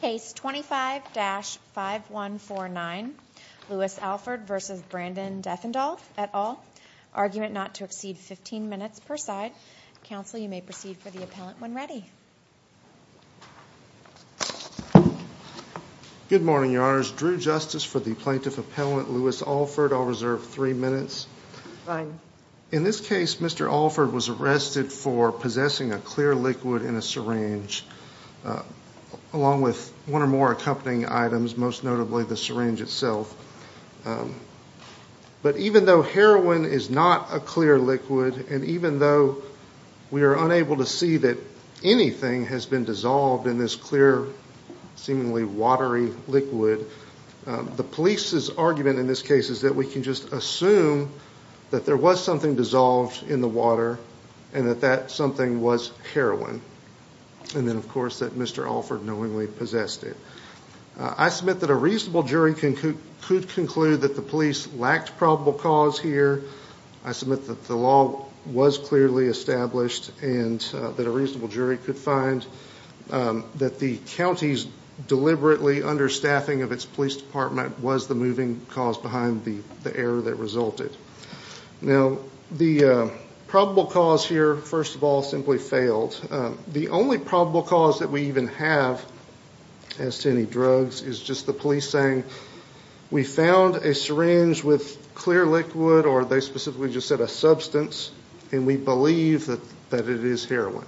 Case 25-5149 Lewis Alford v. Brandon Deffendoll, et al., argument not to exceed 15 minutes per side. Counsel, you may proceed for the appellant when ready. Good morning, Your Honors. Drew Justice for the Plaintiff Appellant Lewis Alford. I'll reserve three minutes. Fine. In this case, Mr. Alford was arrested for possessing a clear liquid in a syringe, along with one or more accompanying items, most notably the syringe itself. But even though heroin is not a clear liquid, and even though we are unable to see that anything has been dissolved in this clear, seemingly watery liquid, the police's argument in this case is that we can just assume that there was something dissolved in the water and that that something was heroin. And then, of course, that Mr. Alford knowingly possessed it. I submit that a reasonable jury could conclude that the police lacked probable cause here. I submit that the law was clearly established and that a reasonable jury could find that the county's deliberately understaffing of its police department was the moving cause behind the error that resulted. Now, the probable cause here, first of all, simply failed. The only probable cause that we even have as to any drugs is just the police saying, we found a syringe with clear liquid, or they specifically just said a substance, and we believe that it is heroin.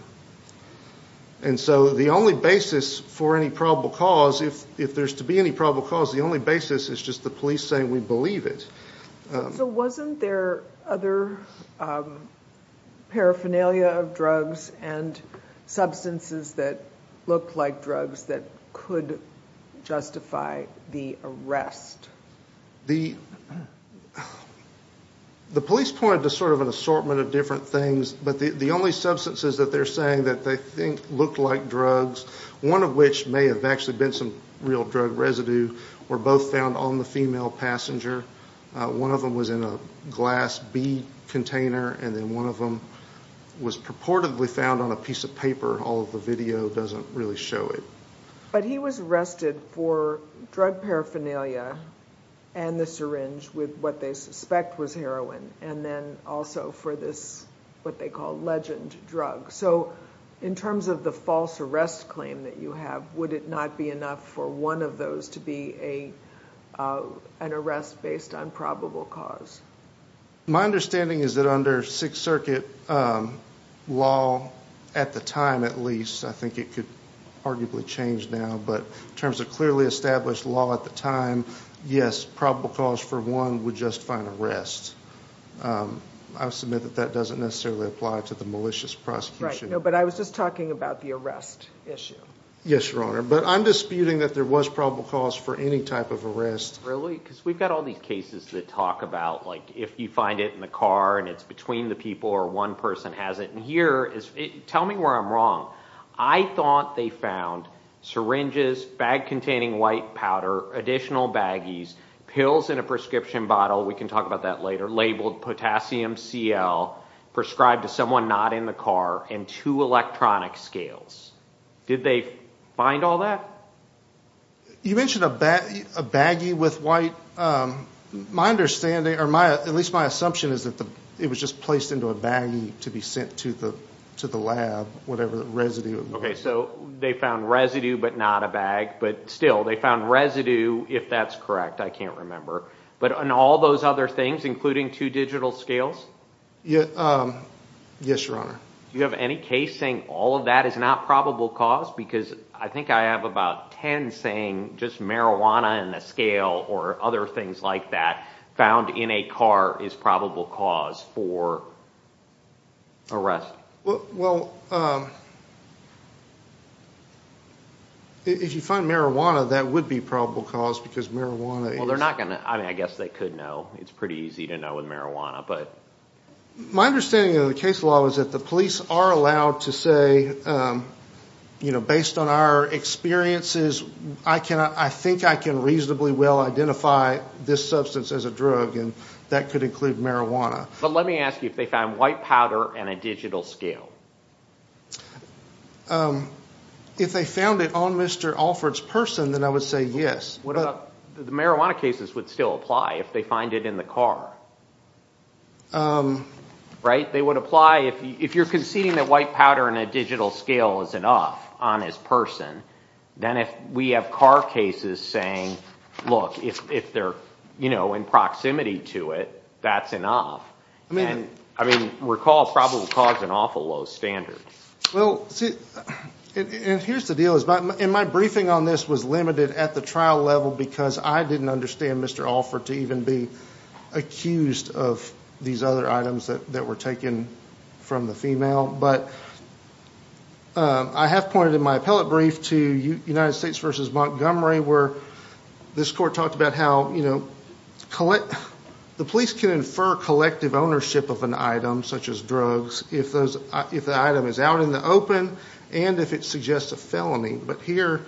And so the only basis for any probable cause, if there's to be any probable cause, the only basis is just the police saying we believe it. So wasn't there other paraphernalia of drugs and substances that looked like drugs that could justify the arrest? The police pointed to sort of an assortment of different things, but the only substances that they're saying that they think looked like drugs, one of which may have actually been some real drug residue, were both found on the female passenger. One of them was in a glass bead container, and then one of them was purportedly found on a piece of paper. All of the video doesn't really show it. But he was arrested for drug paraphernalia and the syringe with what they suspect was heroin, and then also for this what they call legend drug. So in terms of the false arrest claim that you have, would it not be enough for one of those to be an arrest based on probable cause? My understanding is that under Sixth Circuit law, at the time at least, I think it could arguably change now, but in terms of clearly established law at the time, yes, probable cause for one would just find arrest. I would submit that that doesn't necessarily apply to the malicious prosecution. Right, but I was just talking about the arrest issue. Yes, Your Honor, but I'm disputing that there was probable cause for any type of arrest. Really? Because we've got all these cases that talk about if you find it in the car and it's between the people or one person has it, and here, tell me where I'm wrong. I thought they found syringes, bag containing white powder, additional baggies, pills in a prescription bottle. We can talk about that later. Labeled potassium CL, prescribed to someone not in the car, and two electronic scales. Did they find all that? You mentioned a baggie with white. My understanding, or at least my assumption, is that it was just placed into a baggie to be sent to the lab, whatever the residue was. Okay, so they found residue but not a bag, but still, they found residue, if that's correct, I can't remember. But in all those other things, including two digital scales? Yes, Your Honor. Do you have any case saying all of that is not probable cause? Because I think I have about ten saying just marijuana and a scale or other things like that found in a car is probable cause for arrest. Well, if you find marijuana, that would be probable cause because marijuana is… Well, I guess they could know. It's pretty easy to know with marijuana. My understanding of the case law is that the police are allowed to say, based on our experiences, I think I can reasonably well identify this substance as a drug, and that could include marijuana. But let me ask you, if they found white powder and a digital scale? If they found it on Mr. Alford's person, then I would say yes. The marijuana cases would still apply if they find it in the car, right? They would apply if you're conceding that white powder and a digital scale is enough on his person. Then if we have car cases saying, look, if they're in proximity to it, that's enough. I mean, recall probable cause is an awful low standard. Here's the deal. My briefing on this was limited at the trial level because I didn't understand Mr. Alford to even be accused of these other items that were taken from the female. But I have pointed in my appellate brief to United States v. Montgomery, where this court talked about how the police can infer collective ownership of an item such as drugs if the item is out in the open and if it suggests a felony. But here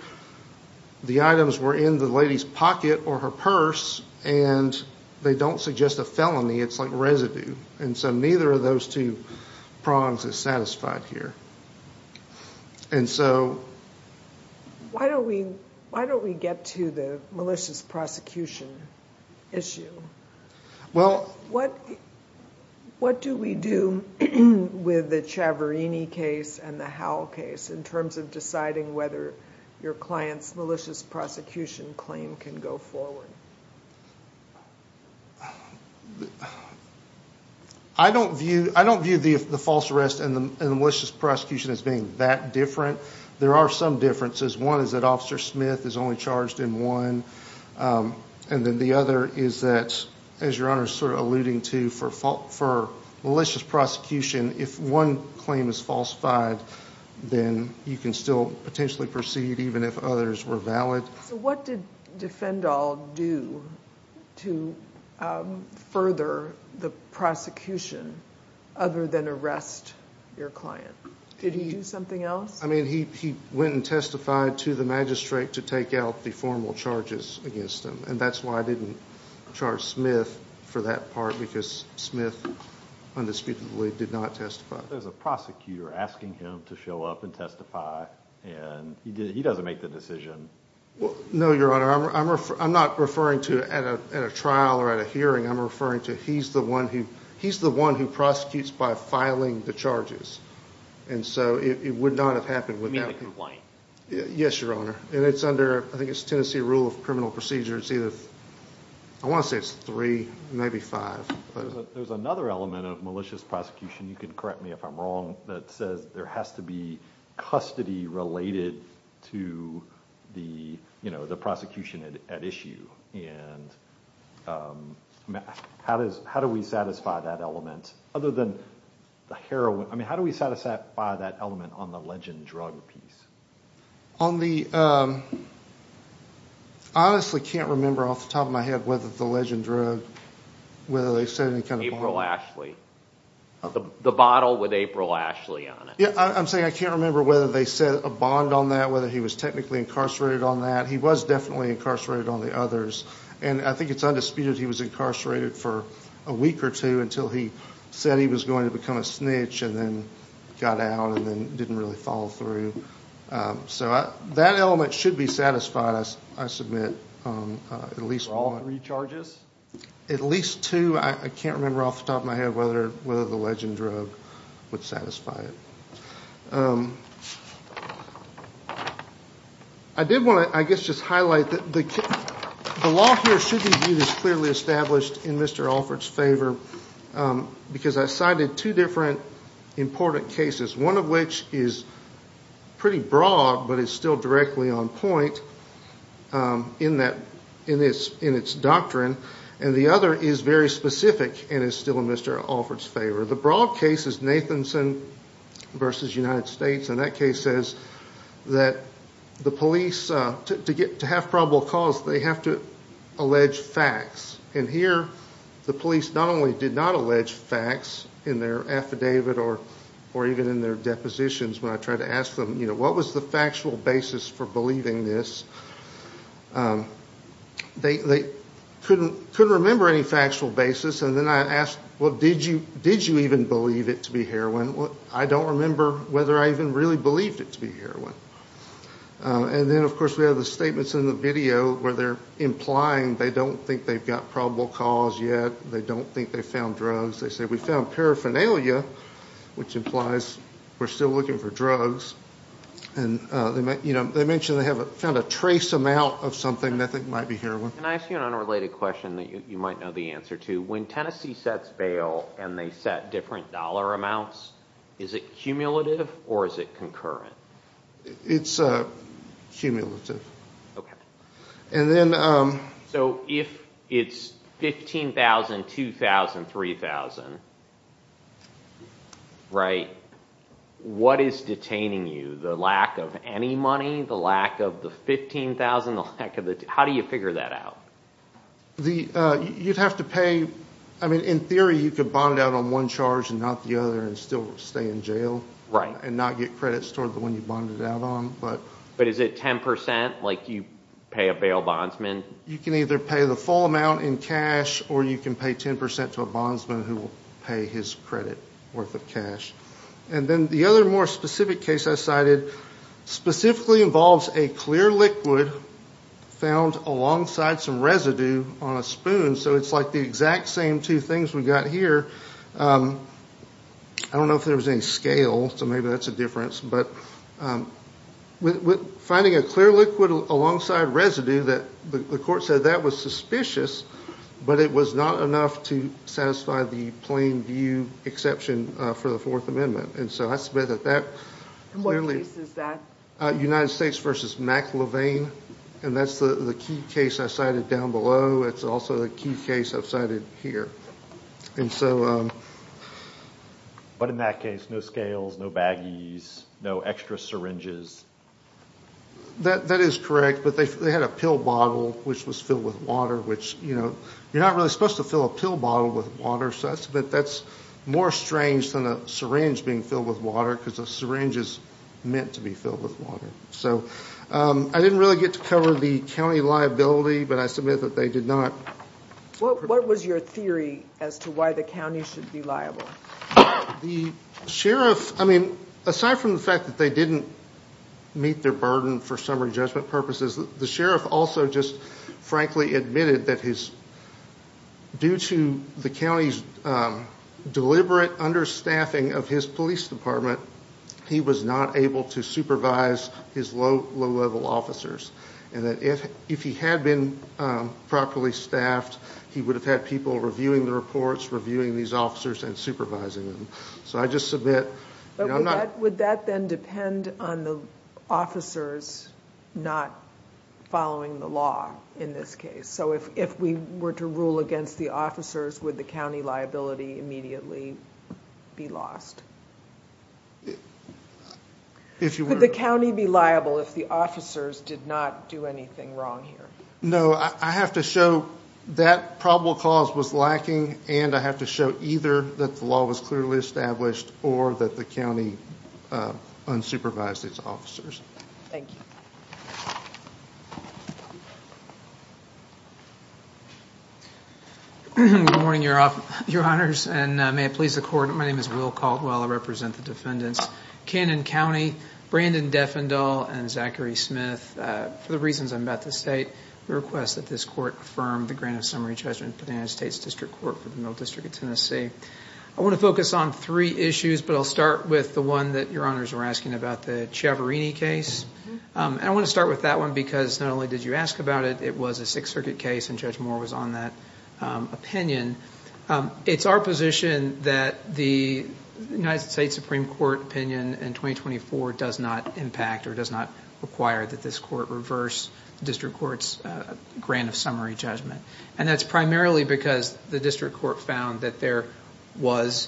the items were in the lady's pocket or her purse, and they don't suggest a felony. It's like residue. And so neither of those two prongs is satisfied here. Why don't we get to the malicious prosecution issue? What do we do with the Ciaverini case and the Howell case in terms of deciding whether your client's malicious prosecution claim can go forward? I don't view the false arrest and the malicious prosecution as being that different. There are some differences. One is that Officer Smith is only charged in one. And then the other is that, as Your Honor is alluding to, for malicious prosecution, if one claim is falsified, then you can still potentially proceed even if others were valid. What did Defendall do to further the prosecution other than arrest your client? Did he do something else? He went and testified to the magistrate to take out the formal charges against him. And that's why I didn't charge Smith for that part, because Smith undisputedly did not testify. There's a prosecutor asking him to show up and testify, and he doesn't make the decision. No, Your Honor. I'm not referring to at a trial or at a hearing. I'm referring to he's the one who prosecutes by filing the charges. And so it would not have happened without him. Yes, Your Honor. And it's under, I think it's Tennessee Rule of Criminal Procedure. I want to say it's three, maybe five. There's another element of malicious prosecution, you can correct me if I'm wrong, that says there has to be custody related to the prosecution at issue. And how do we satisfy that element? Other than the heroin, I mean, how do we satisfy that element on the legend drug piece? I honestly can't remember off the top of my head whether the legend drug, whether they said any kind of bond. April Ashley. The bottle with April Ashley on it. Yeah, I'm saying I can't remember whether they said a bond on that, whether he was technically incarcerated on that. He was definitely incarcerated on the others. And I think it's undisputed he was incarcerated for a week or two until he said he was going to become a snitch and then got out and then didn't really follow through. So that element should be satisfied, I submit. For all three charges? At least two. I can't remember off the top of my head whether the legend drug would satisfy it. I did want to, I guess, just highlight that the law here should be viewed as clearly established in Mr. Alford's favor because I cited two different important cases, one of which is pretty broad but is still directly on point in its doctrine and the other is very specific and is still in Mr. Alford's favor. The broad case is Nathanson v. United States and that case says that the police, to have probable cause, they have to allege facts. And here the police not only did not allege facts in their affidavit or even in their depositions when I tried to ask them, you know, what was the factual basis for believing this, they couldn't remember any factual basis. And then I asked, well, did you even believe it to be heroin? I don't remember whether I even really believed it to be heroin. And then, of course, we have the statements in the video where they're implying they don't think they've got probable cause yet, they don't think they've found drugs. They say, we found paraphernalia, which implies we're still looking for drugs. And, you know, they mentioned they found a trace amount of something that they think might be heroin. Can I ask you an unrelated question that you might know the answer to? When Tennessee sets bail and they set different dollar amounts, is it cumulative or is it concurrent? It's cumulative. Okay. And then... So if it's $15,000, $2,000, $3,000, right, what is detaining you? The lack of any money? The lack of the $15,000? How do you figure that out? You'd have to pay, I mean, in theory you could bond out on one charge and not the other and still stay in jail. Right. And not get credits toward the one you bonded out on. But is it 10% like you pay a bail bondsman? You can either pay the full amount in cash or you can pay 10% to a bondsman who will pay his credit worth of cash. And then the other more specific case I cited specifically involves a clear liquid found alongside some residue on a spoon. So it's like the exact same two things we've got here. I don't know if there was any scale, so maybe that's a difference. But finding a clear liquid alongside residue, the court said that was suspicious, but it was not enough to satisfy the plain view exception for the Fourth Amendment. And so I submit that that clearly... And what case is that? United States v. McLevain. And that's the key case I cited down below. It's also the key case I've cited here. And so... But in that case, no scales, no baggies, no extra syringes. That is correct, but they had a pill bottle which was filled with water, which, you know, you're not really supposed to fill a pill bottle with water, but that's more strange than a syringe being filled with water because a syringe is meant to be filled with water. So I didn't really get to cover the county liability, but I submit that they did not... What was your theory as to why the county should be liable? The sheriff... I mean, aside from the fact that they didn't meet their burden for summary judgment purposes, the sheriff also just frankly admitted that due to the county's deliberate understaffing of his police department, he was not able to supervise his low-level officers, and that if he had been properly staffed, he would have had people reviewing the reports, reviewing these officers, and supervising them. So I just submit... Would that then depend on the officers not following the law in this case? So if we were to rule against the officers, would the county liability immediately be lost? If you were... Could the county be liable if the officers did not do anything wrong here? No. I have to show that probable cause was lacking, and I have to show either that the law was clearly established or that the county unsupervised its officers. Thank you. Good morning, Your Honors, and may it please the Court, my name is Will Caldwell. I represent the defendants, Cannon County, Brandon Defendall, and Zachary Smith. For the reasons I'm about to state, we request that this Court affirm the grant of summary judgment for the United States District Court for the Middle District of Tennessee. I want to focus on three issues, but I'll start with the one that Your Honors were asking about, the Ciavarini case. And I want to start with that one because not only did you ask about it, it was a Sixth Circuit case, and Judge Moore was on that opinion. It's our position that the United States Supreme Court opinion in 2024 does not impact or does not require that this Court reverse the District Court's grant of summary judgment. And that's primarily because the District Court found that there was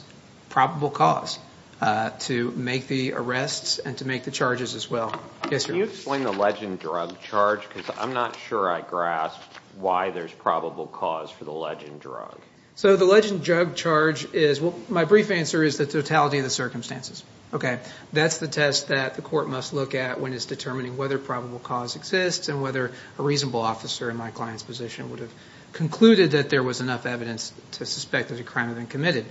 probable cause to make the arrests and to make the charges as well. Yes, sir. Can you explain the legend drug charge? Because I'm not sure I grasp why there's probable cause for the legend drug. So the legend drug charge is, well, my brief answer is the totality of the circumstances. Okay, that's the test that the Court must look at when it's determining whether probable cause exists and whether a reasonable officer in my client's position would have concluded that there was enough evidence to suspect that a crime had been committed.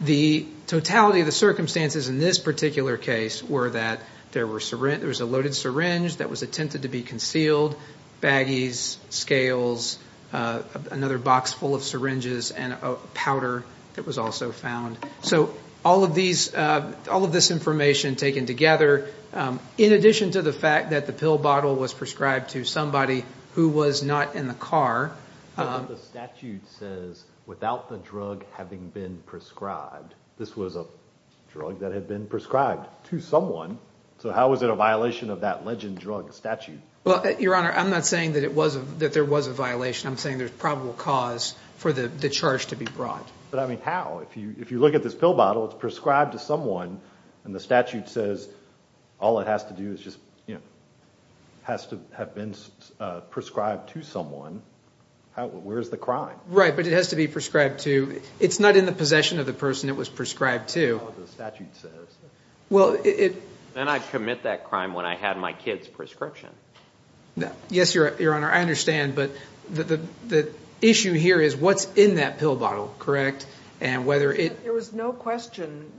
The totality of the circumstances in this particular case were that there was a loaded syringe that was attempted to be concealed, baggies, scales, another box full of syringes, and a powder that was also found. So all of this information taken together, in addition to the fact that the pill bottle was prescribed to somebody who was not in the car. But the statute says, without the drug having been prescribed, this was a drug that had been prescribed to someone. So how is it a violation of that legend drug statute? Well, Your Honor, I'm not saying that there was a violation. I'm saying there's probable cause for the charge to be brought. But I mean, how? If you look at this pill bottle, it's prescribed to someone, and the statute says all it has to do is just, you know, has to have been prescribed to someone. Where's the crime? Right, but it has to be prescribed to – it's not in the possession of the person it was prescribed to. That's what the statute says. Then I'd commit that crime when I had my kid's prescription. Yes, Your Honor, I understand. But the issue here is what's in that pill bottle, correct? There was no question,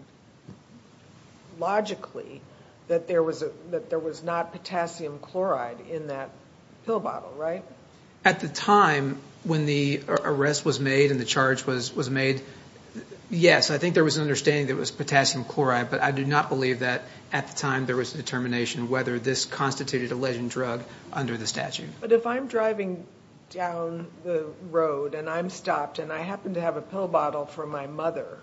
logically, that there was not potassium chloride in that pill bottle, right? At the time when the arrest was made and the charge was made, yes, I think there was an understanding that it was potassium chloride. But I do not believe that at the time there was a determination whether this constituted a legend drug under the statute. But if I'm driving down the road and I'm stopped and I happen to have a pill bottle for my mother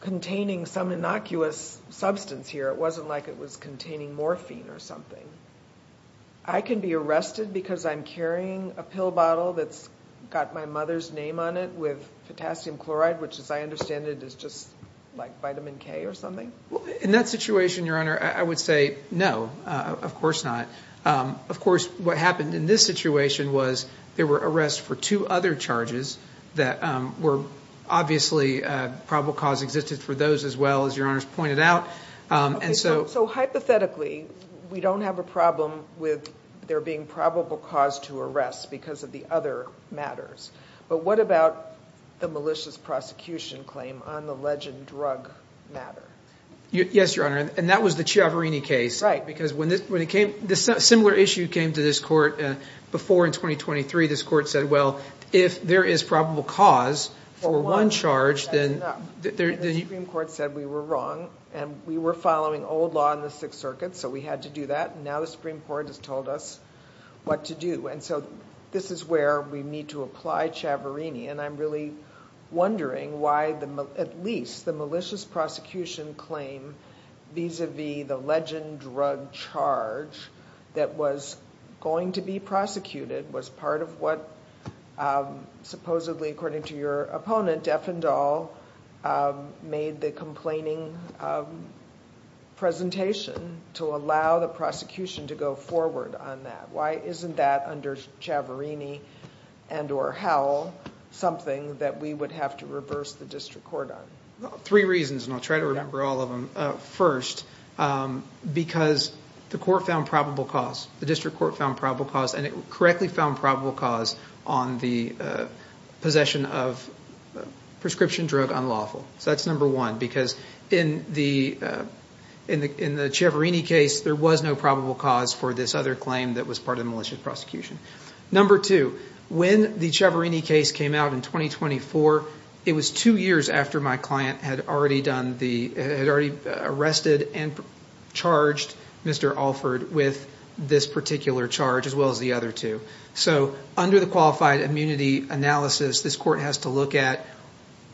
containing some innocuous substance here, it wasn't like it was containing morphine or something, I can be arrested because I'm carrying a pill bottle that's got my mother's name on it with potassium chloride, which, as I understand it, is just like vitamin K or something? In that situation, Your Honor, I would say no, of course not. Of course, what happened in this situation was there were arrests for two other charges that were obviously probable cause existed for those as well, as Your Honor's pointed out. So hypothetically, we don't have a problem with there being probable cause to arrest because of the other matters. But what about the malicious prosecution claim on the legend drug matter? Yes, Your Honor, and that was the Ciavarini case. Because when it came – a similar issue came to this court before in 2023. This court said, well, if there is probable cause for one charge, then – The Supreme Court said we were wrong and we were following old law in the Sixth Circuit, so we had to do that, and now the Supreme Court has told us what to do. And so this is where we need to apply Ciavarini, and I'm really wondering why at least the malicious prosecution claim vis-a-vis the legend drug charge that was going to be prosecuted was part of what supposedly, according to your opponent, Defendall made the complaining presentation to allow the prosecution to go forward on that. Why isn't that under Ciavarini and or Howell something that we would have to reverse the district court on? Three reasons, and I'll try to remember all of them. First, because the court found probable cause. The district court found probable cause, and it correctly found probable cause on the possession of a prescription drug unlawful. So that's number one, because in the Ciavarini case, there was no probable cause for this other claim that was part of the malicious prosecution. Number two, when the Ciavarini case came out in 2024, it was two years after my client had already arrested and charged Mr. Alford with this particular charge as well as the other two. So under the qualified immunity analysis, this court has to look at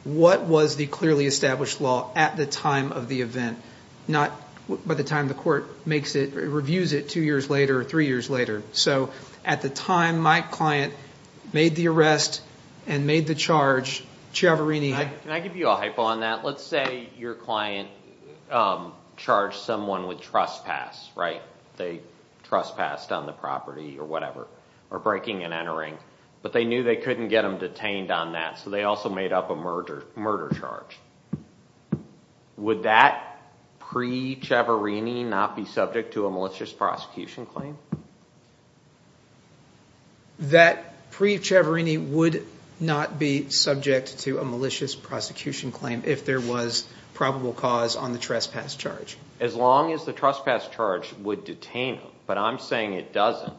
what was the clearly established law at the time of the event, not by the time the court reviews it two years later or three years later. So at the time my client made the arrest and made the charge, Ciavarini had- Can I give you a hypo on that? Let's say your client charged someone with trespass, right? They trespassed on the property or whatever, or breaking and entering, but they knew they couldn't get them detained on that, so they also made up a murder charge. Would that pre-Ciavarini not be subject to a malicious prosecution claim? That pre-Ciavarini would not be subject to a malicious prosecution claim if there was probable cause on the trespass charge. As long as the trespass charge would detain them, but I'm saying it doesn't.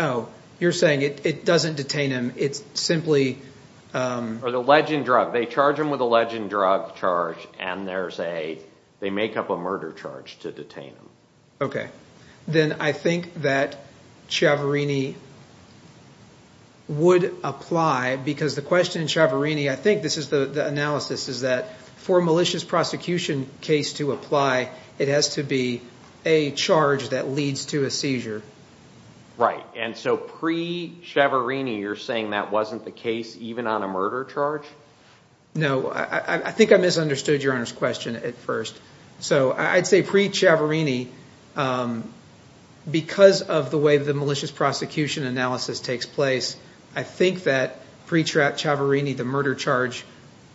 Oh, you're saying it doesn't detain them, it's simply- Or the legend drug. They charge them with a legend drug charge, and they make up a murder charge to detain them. Okay. Then I think that Ciavarini would apply, because the question in Ciavarini, I think this is the analysis, is that for a malicious prosecution case to apply, it has to be a charge that leads to a seizure. Right. And so pre-Ciavarini, you're saying that wasn't the case even on a murder charge? No. I think I misunderstood Your Honor's question at first. I'd say pre-Ciavarini, because of the way the malicious prosecution analysis takes place, I think that pre-Ciavarini, the murder charge,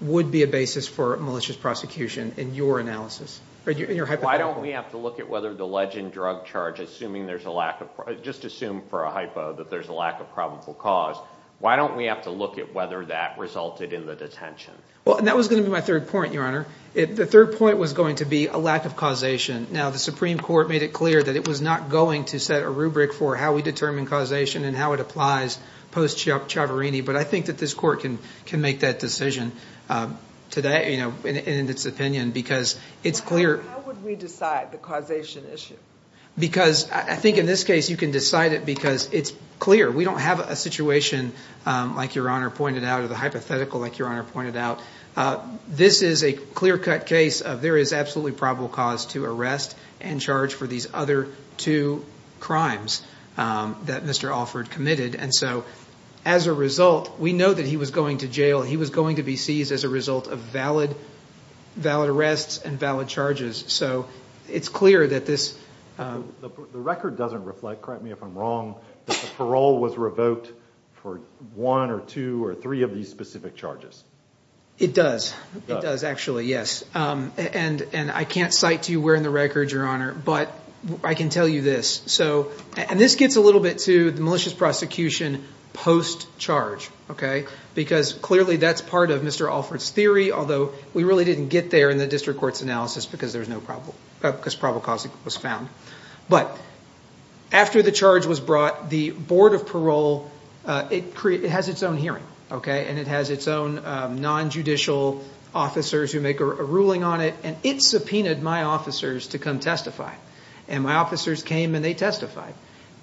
would be a basis for malicious prosecution in your analysis, in your hypothetical. Why don't we have to look at whether the legend drug charge, just assume for a hypo that there's a lack of problem for cause, why don't we have to look at whether that resulted in the detention? That was going to be my third point, Your Honor. The third point was going to be a lack of causation. Now, the Supreme Court made it clear that it was not going to set a rubric for how we determine causation and how it applies post-Ciavarini, but I think that this court can make that decision today in its opinion, because it's clear- How would we decide the causation issue? Because I think in this case you can decide it because it's clear. We don't have a situation like Your Honor pointed out, or the hypothetical like Your Honor pointed out. This is a clear-cut case of there is absolutely probable cause to arrest and charge for these other two crimes that Mr. Alford committed, and so as a result, we know that he was going to jail. It's clear that this- The record doesn't reflect, correct me if I'm wrong, that the parole was revoked for one or two or three of these specific charges. It does. It does actually, yes. And I can't cite to you where in the record, Your Honor, but I can tell you this. And this gets a little bit to the malicious prosecution post-charge, because clearly that's part of Mr. Alford's theory, although we really didn't get there in the district court's analysis because probable cause was found. But after the charge was brought, the Board of Parole, it has its own hearing, and it has its own non-judicial officers who make a ruling on it, and it subpoenaed my officers to come testify, and my officers came and they testified.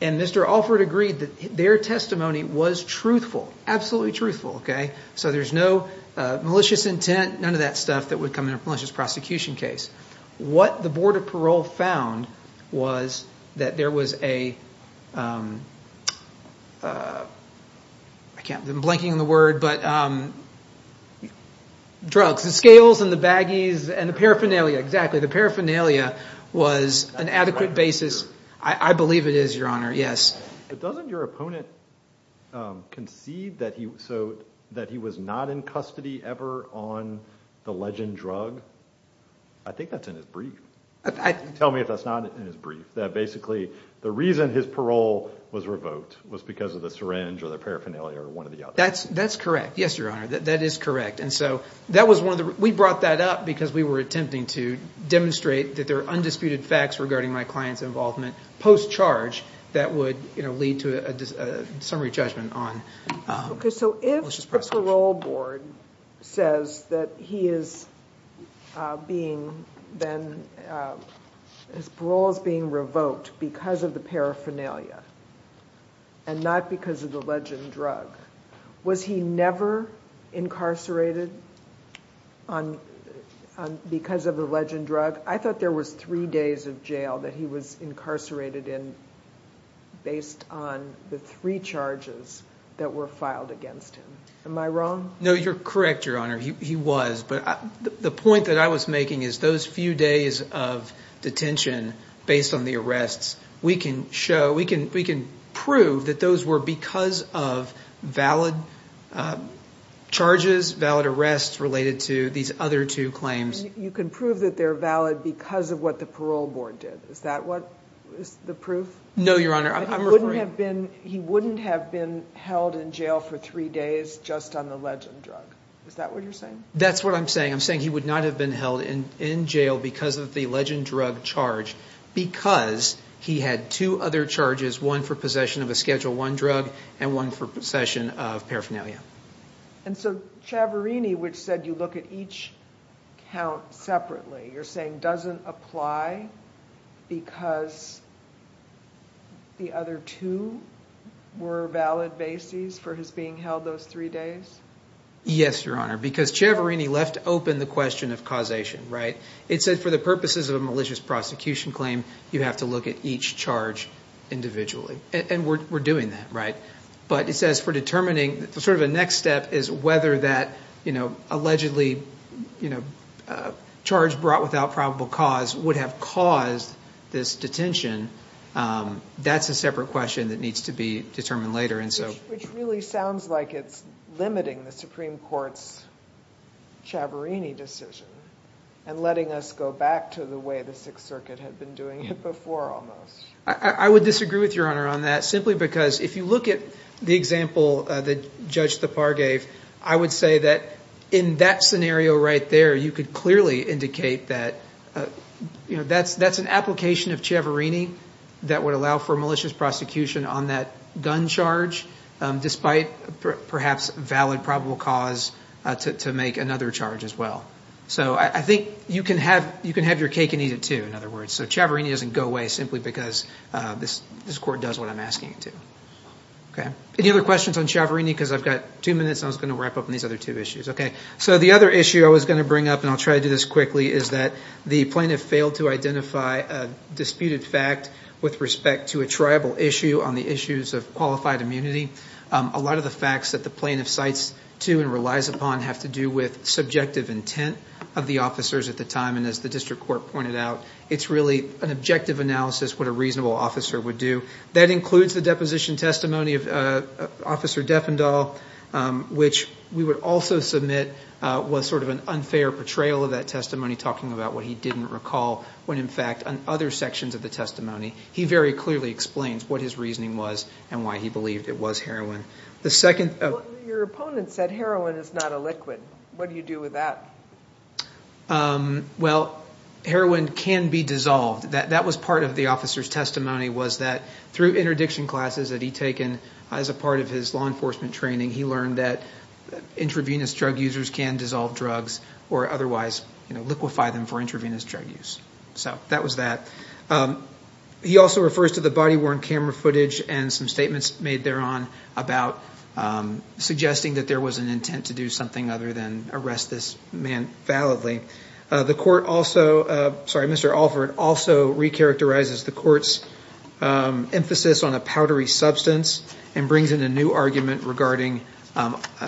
And Mr. Alford agreed that their testimony was truthful, absolutely truthful. So there's no malicious intent, none of that stuff, that would come in a malicious prosecution case. What the Board of Parole found was that there was a- I'm blanking on the word, but drugs. The scales and the baggies and the paraphernalia, exactly. The paraphernalia was an adequate basis. I believe it is, Your Honor, yes. But doesn't your opponent conceive that he was not in custody ever on the legend drug? I think that's in his brief. Tell me if that's not in his brief, that basically the reason his parole was revoked was because of the syringe or the paraphernalia or one or the other. That's correct, yes, Your Honor. That is correct, and so that was one of the- we brought that up because we were attempting to demonstrate that there are undisputed facts regarding my client's involvement post-charge that would lead to a summary judgment on malicious prosecution. Okay, so if the parole board says that he is being then- his parole is being revoked because of the paraphernalia and not because of the legend drug, was he never incarcerated because of the legend drug? I thought there was three days of jail that he was incarcerated in based on the three charges that were filed against him. Am I wrong? No, you're correct, Your Honor. He was, but the point that I was making is those few days of detention based on the arrests, we can show-we can prove that those were because of valid charges, valid arrests related to these other two claims. You can prove that they're valid because of what the parole board did. Is that what the proof? No, Your Honor, I'm referring- He wouldn't have been held in jail for three days just on the legend drug. Is that what you're saying? That's what I'm saying. I'm saying he would not have been held in jail because of the legend drug charge because he had two other charges, one for possession of a Schedule I drug and one for possession of paraphernalia. And so Ciavarini, which said you look at each count separately, you're saying doesn't apply because the other two were valid bases for his being held those three days? Yes, Your Honor, because Ciavarini left open the question of causation. It said for the purposes of a malicious prosecution claim, you have to look at each charge individually, and we're doing that. But it says for determining sort of the next step is whether that allegedly charge brought without probable cause would have caused this detention. That's a separate question that needs to be determined later. Which really sounds like it's limiting the Supreme Court's Ciavarini decision and letting us go back to the way the Sixth Circuit had been doing it before almost. I would disagree with Your Honor on that simply because if you look at the example that Judge Thapar gave, I would say that in that scenario right there, you could clearly indicate that that's an application of Ciavarini that would allow for malicious prosecution on that gun charge despite perhaps valid probable cause to make another charge as well. So I think you can have your cake and eat it too, in other words. So Ciavarini doesn't go away simply because this court does what I'm asking it to. Any other questions on Ciavarini? Because I've got two minutes and I was going to wrap up on these other two issues. The other issue I was going to bring up, and I'll try to do this quickly, is that the plaintiff failed to identify a disputed fact with respect to a tribal issue on the issues of qualified immunity. A lot of the facts that the plaintiff cites to and relies upon have to do with subjective intent of the officers at the time, and as the district court pointed out, it's really an objective analysis of what a reasonable officer would do. That includes the deposition testimony of Officer Defendall, which we would also submit was sort of an unfair portrayal of that testimony, talking about what he didn't recall when, in fact, on other sections of the testimony, he very clearly explains what his reasoning was and why he believed it was heroin. Your opponent said heroin is not a liquid. What do you do with that? Well, heroin can be dissolved. That was part of the officer's testimony was that through interdiction classes that he'd taken as a part of his law enforcement training, he learned that intravenous drug users can dissolve drugs or otherwise liquefy them for intravenous drug use. So that was that. He also refers to the body-worn camera footage and some statements made thereon about suggesting that there was an intent to do something other than arrest this man validly. Mr. Alford also recharacterizes the court's emphasis on a powdery substance and brings in a new argument regarding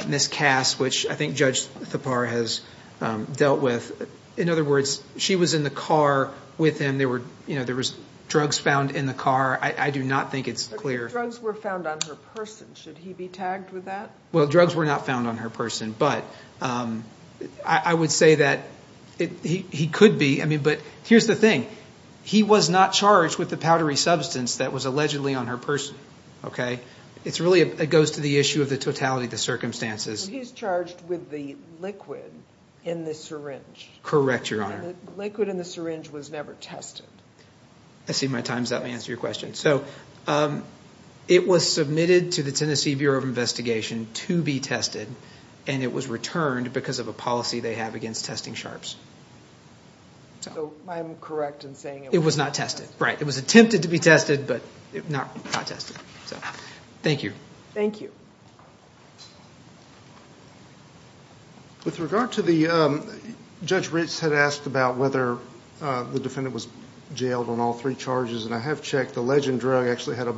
Miss Cass, which I think Judge Thapar has dealt with. In other words, she was in the car with him. There was drugs found in the car. I do not think it's clear. Drugs were found on her person. Should he be tagged with that? Well, drugs were not found on her person, but I would say that he could be. But here's the thing. He was not charged with the powdery substance that was allegedly on her person. It really goes to the issue of the totality of the circumstances. He's charged with the liquid in the syringe. Correct, Your Honor. The liquid in the syringe was never tested. I see my time's up. Let me answer your question. So it was submitted to the Tennessee Bureau of Investigation to be tested, and it was returned because of a policy they have against testing sharps. So I'm correct in saying it was not tested. It was not tested, right. It was attempted to be tested, but not tested. Thank you. Thank you. With regard to the – Judge Ritz had asked about whether the defendant was jailed on all three charges, and I have checked. The legend drug actually had a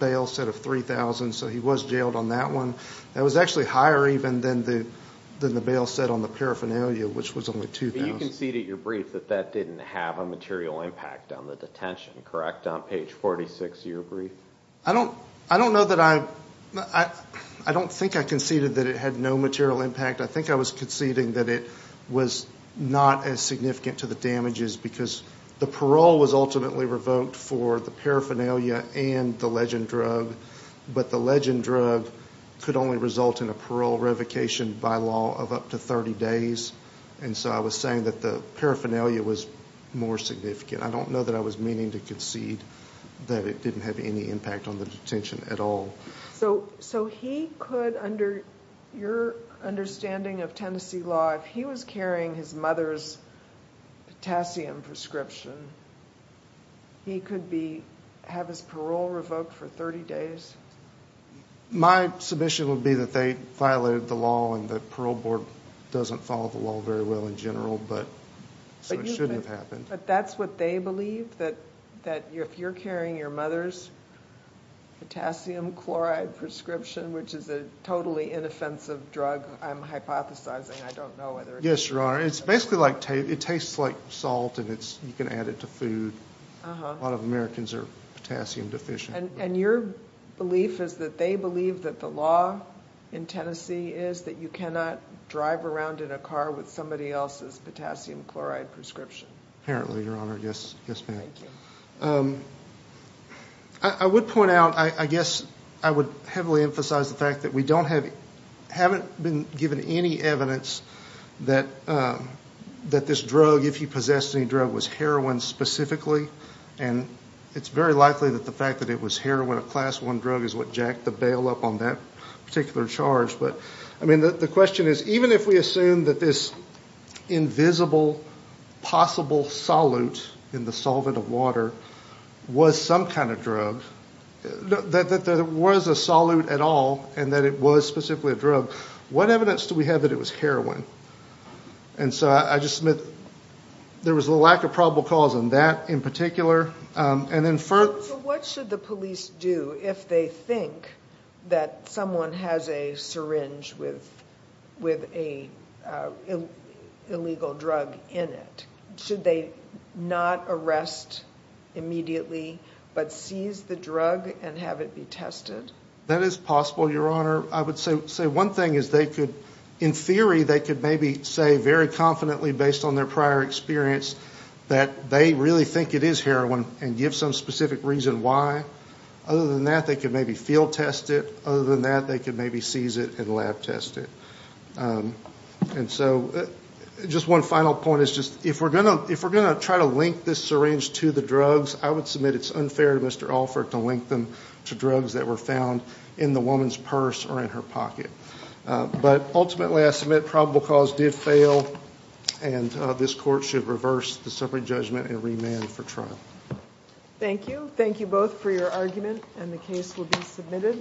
bail set of $3,000, so he was jailed on that one. That was actually higher even than the bail set on the paraphernalia, which was only $2,000. But you conceded at your brief that that didn't have a material impact on the detention, correct, on page 46 of your brief? I don't know that I – I don't think I conceded that it had no material impact. I think I was conceding that it was not as significant to the damages because the parole was ultimately revoked for the paraphernalia and the legend drug, but the legend drug could only result in a parole revocation by law of up to 30 days. And so I was saying that the paraphernalia was more significant. I don't know that I was meaning to concede that it didn't have any impact on the detention at all. So he could, under your understanding of Tennessee law, if he was carrying his mother's potassium prescription, he could be – have his parole revoked for 30 days? My submission would be that they violated the law and the parole board doesn't follow the law very well in general, so it shouldn't have happened. But that's what they believe, that if you're carrying your mother's potassium chloride prescription, which is a totally inoffensive drug, I'm hypothesizing, I don't know whether – Yes, Your Honor, it's basically like – it tastes like salt and it's – you can add it to food. A lot of Americans are potassium deficient. And your belief is that they believe that the law in Tennessee is that you cannot drive around in a car with somebody else's potassium chloride prescription? Apparently, Your Honor. Yes, ma'am. Thank you. I would point out – I guess I would heavily emphasize the fact that we don't have – haven't been given any evidence that this drug, if he possessed any drug, was heroin specifically. And it's very likely that the fact that it was heroin, a Class I drug, is what jacked the bail up on that particular charge. But, I mean, the question is, even if we assume that this invisible possible solute in the solvent of water was some kind of drug, that there was a solute at all and that it was specifically a drug, what evidence do we have that it was heroin? And so I just submit there was a lack of probable cause on that in particular. So what should the police do if they think that someone has a syringe with an illegal drug in it? Should they not arrest immediately, but seize the drug and have it be tested? That is possible, Your Honor. I would say one thing is they could – in theory, they could maybe say very confidently, based on their prior experience, that they really think it is heroin and give some specific reason why. Other than that, they could maybe field test it. Other than that, they could maybe seize it and lab test it. And so just one final point is just if we're going to try to link this syringe to the drugs, I would submit it's unfair to Mr. Allford to link them to drugs that were found in the woman's purse or in her pocket. But ultimately, I submit probable cause did fail, and this Court should reverse the separate judgment and remand for trial. Thank you. Thank you both for your argument, and the case will be submitted.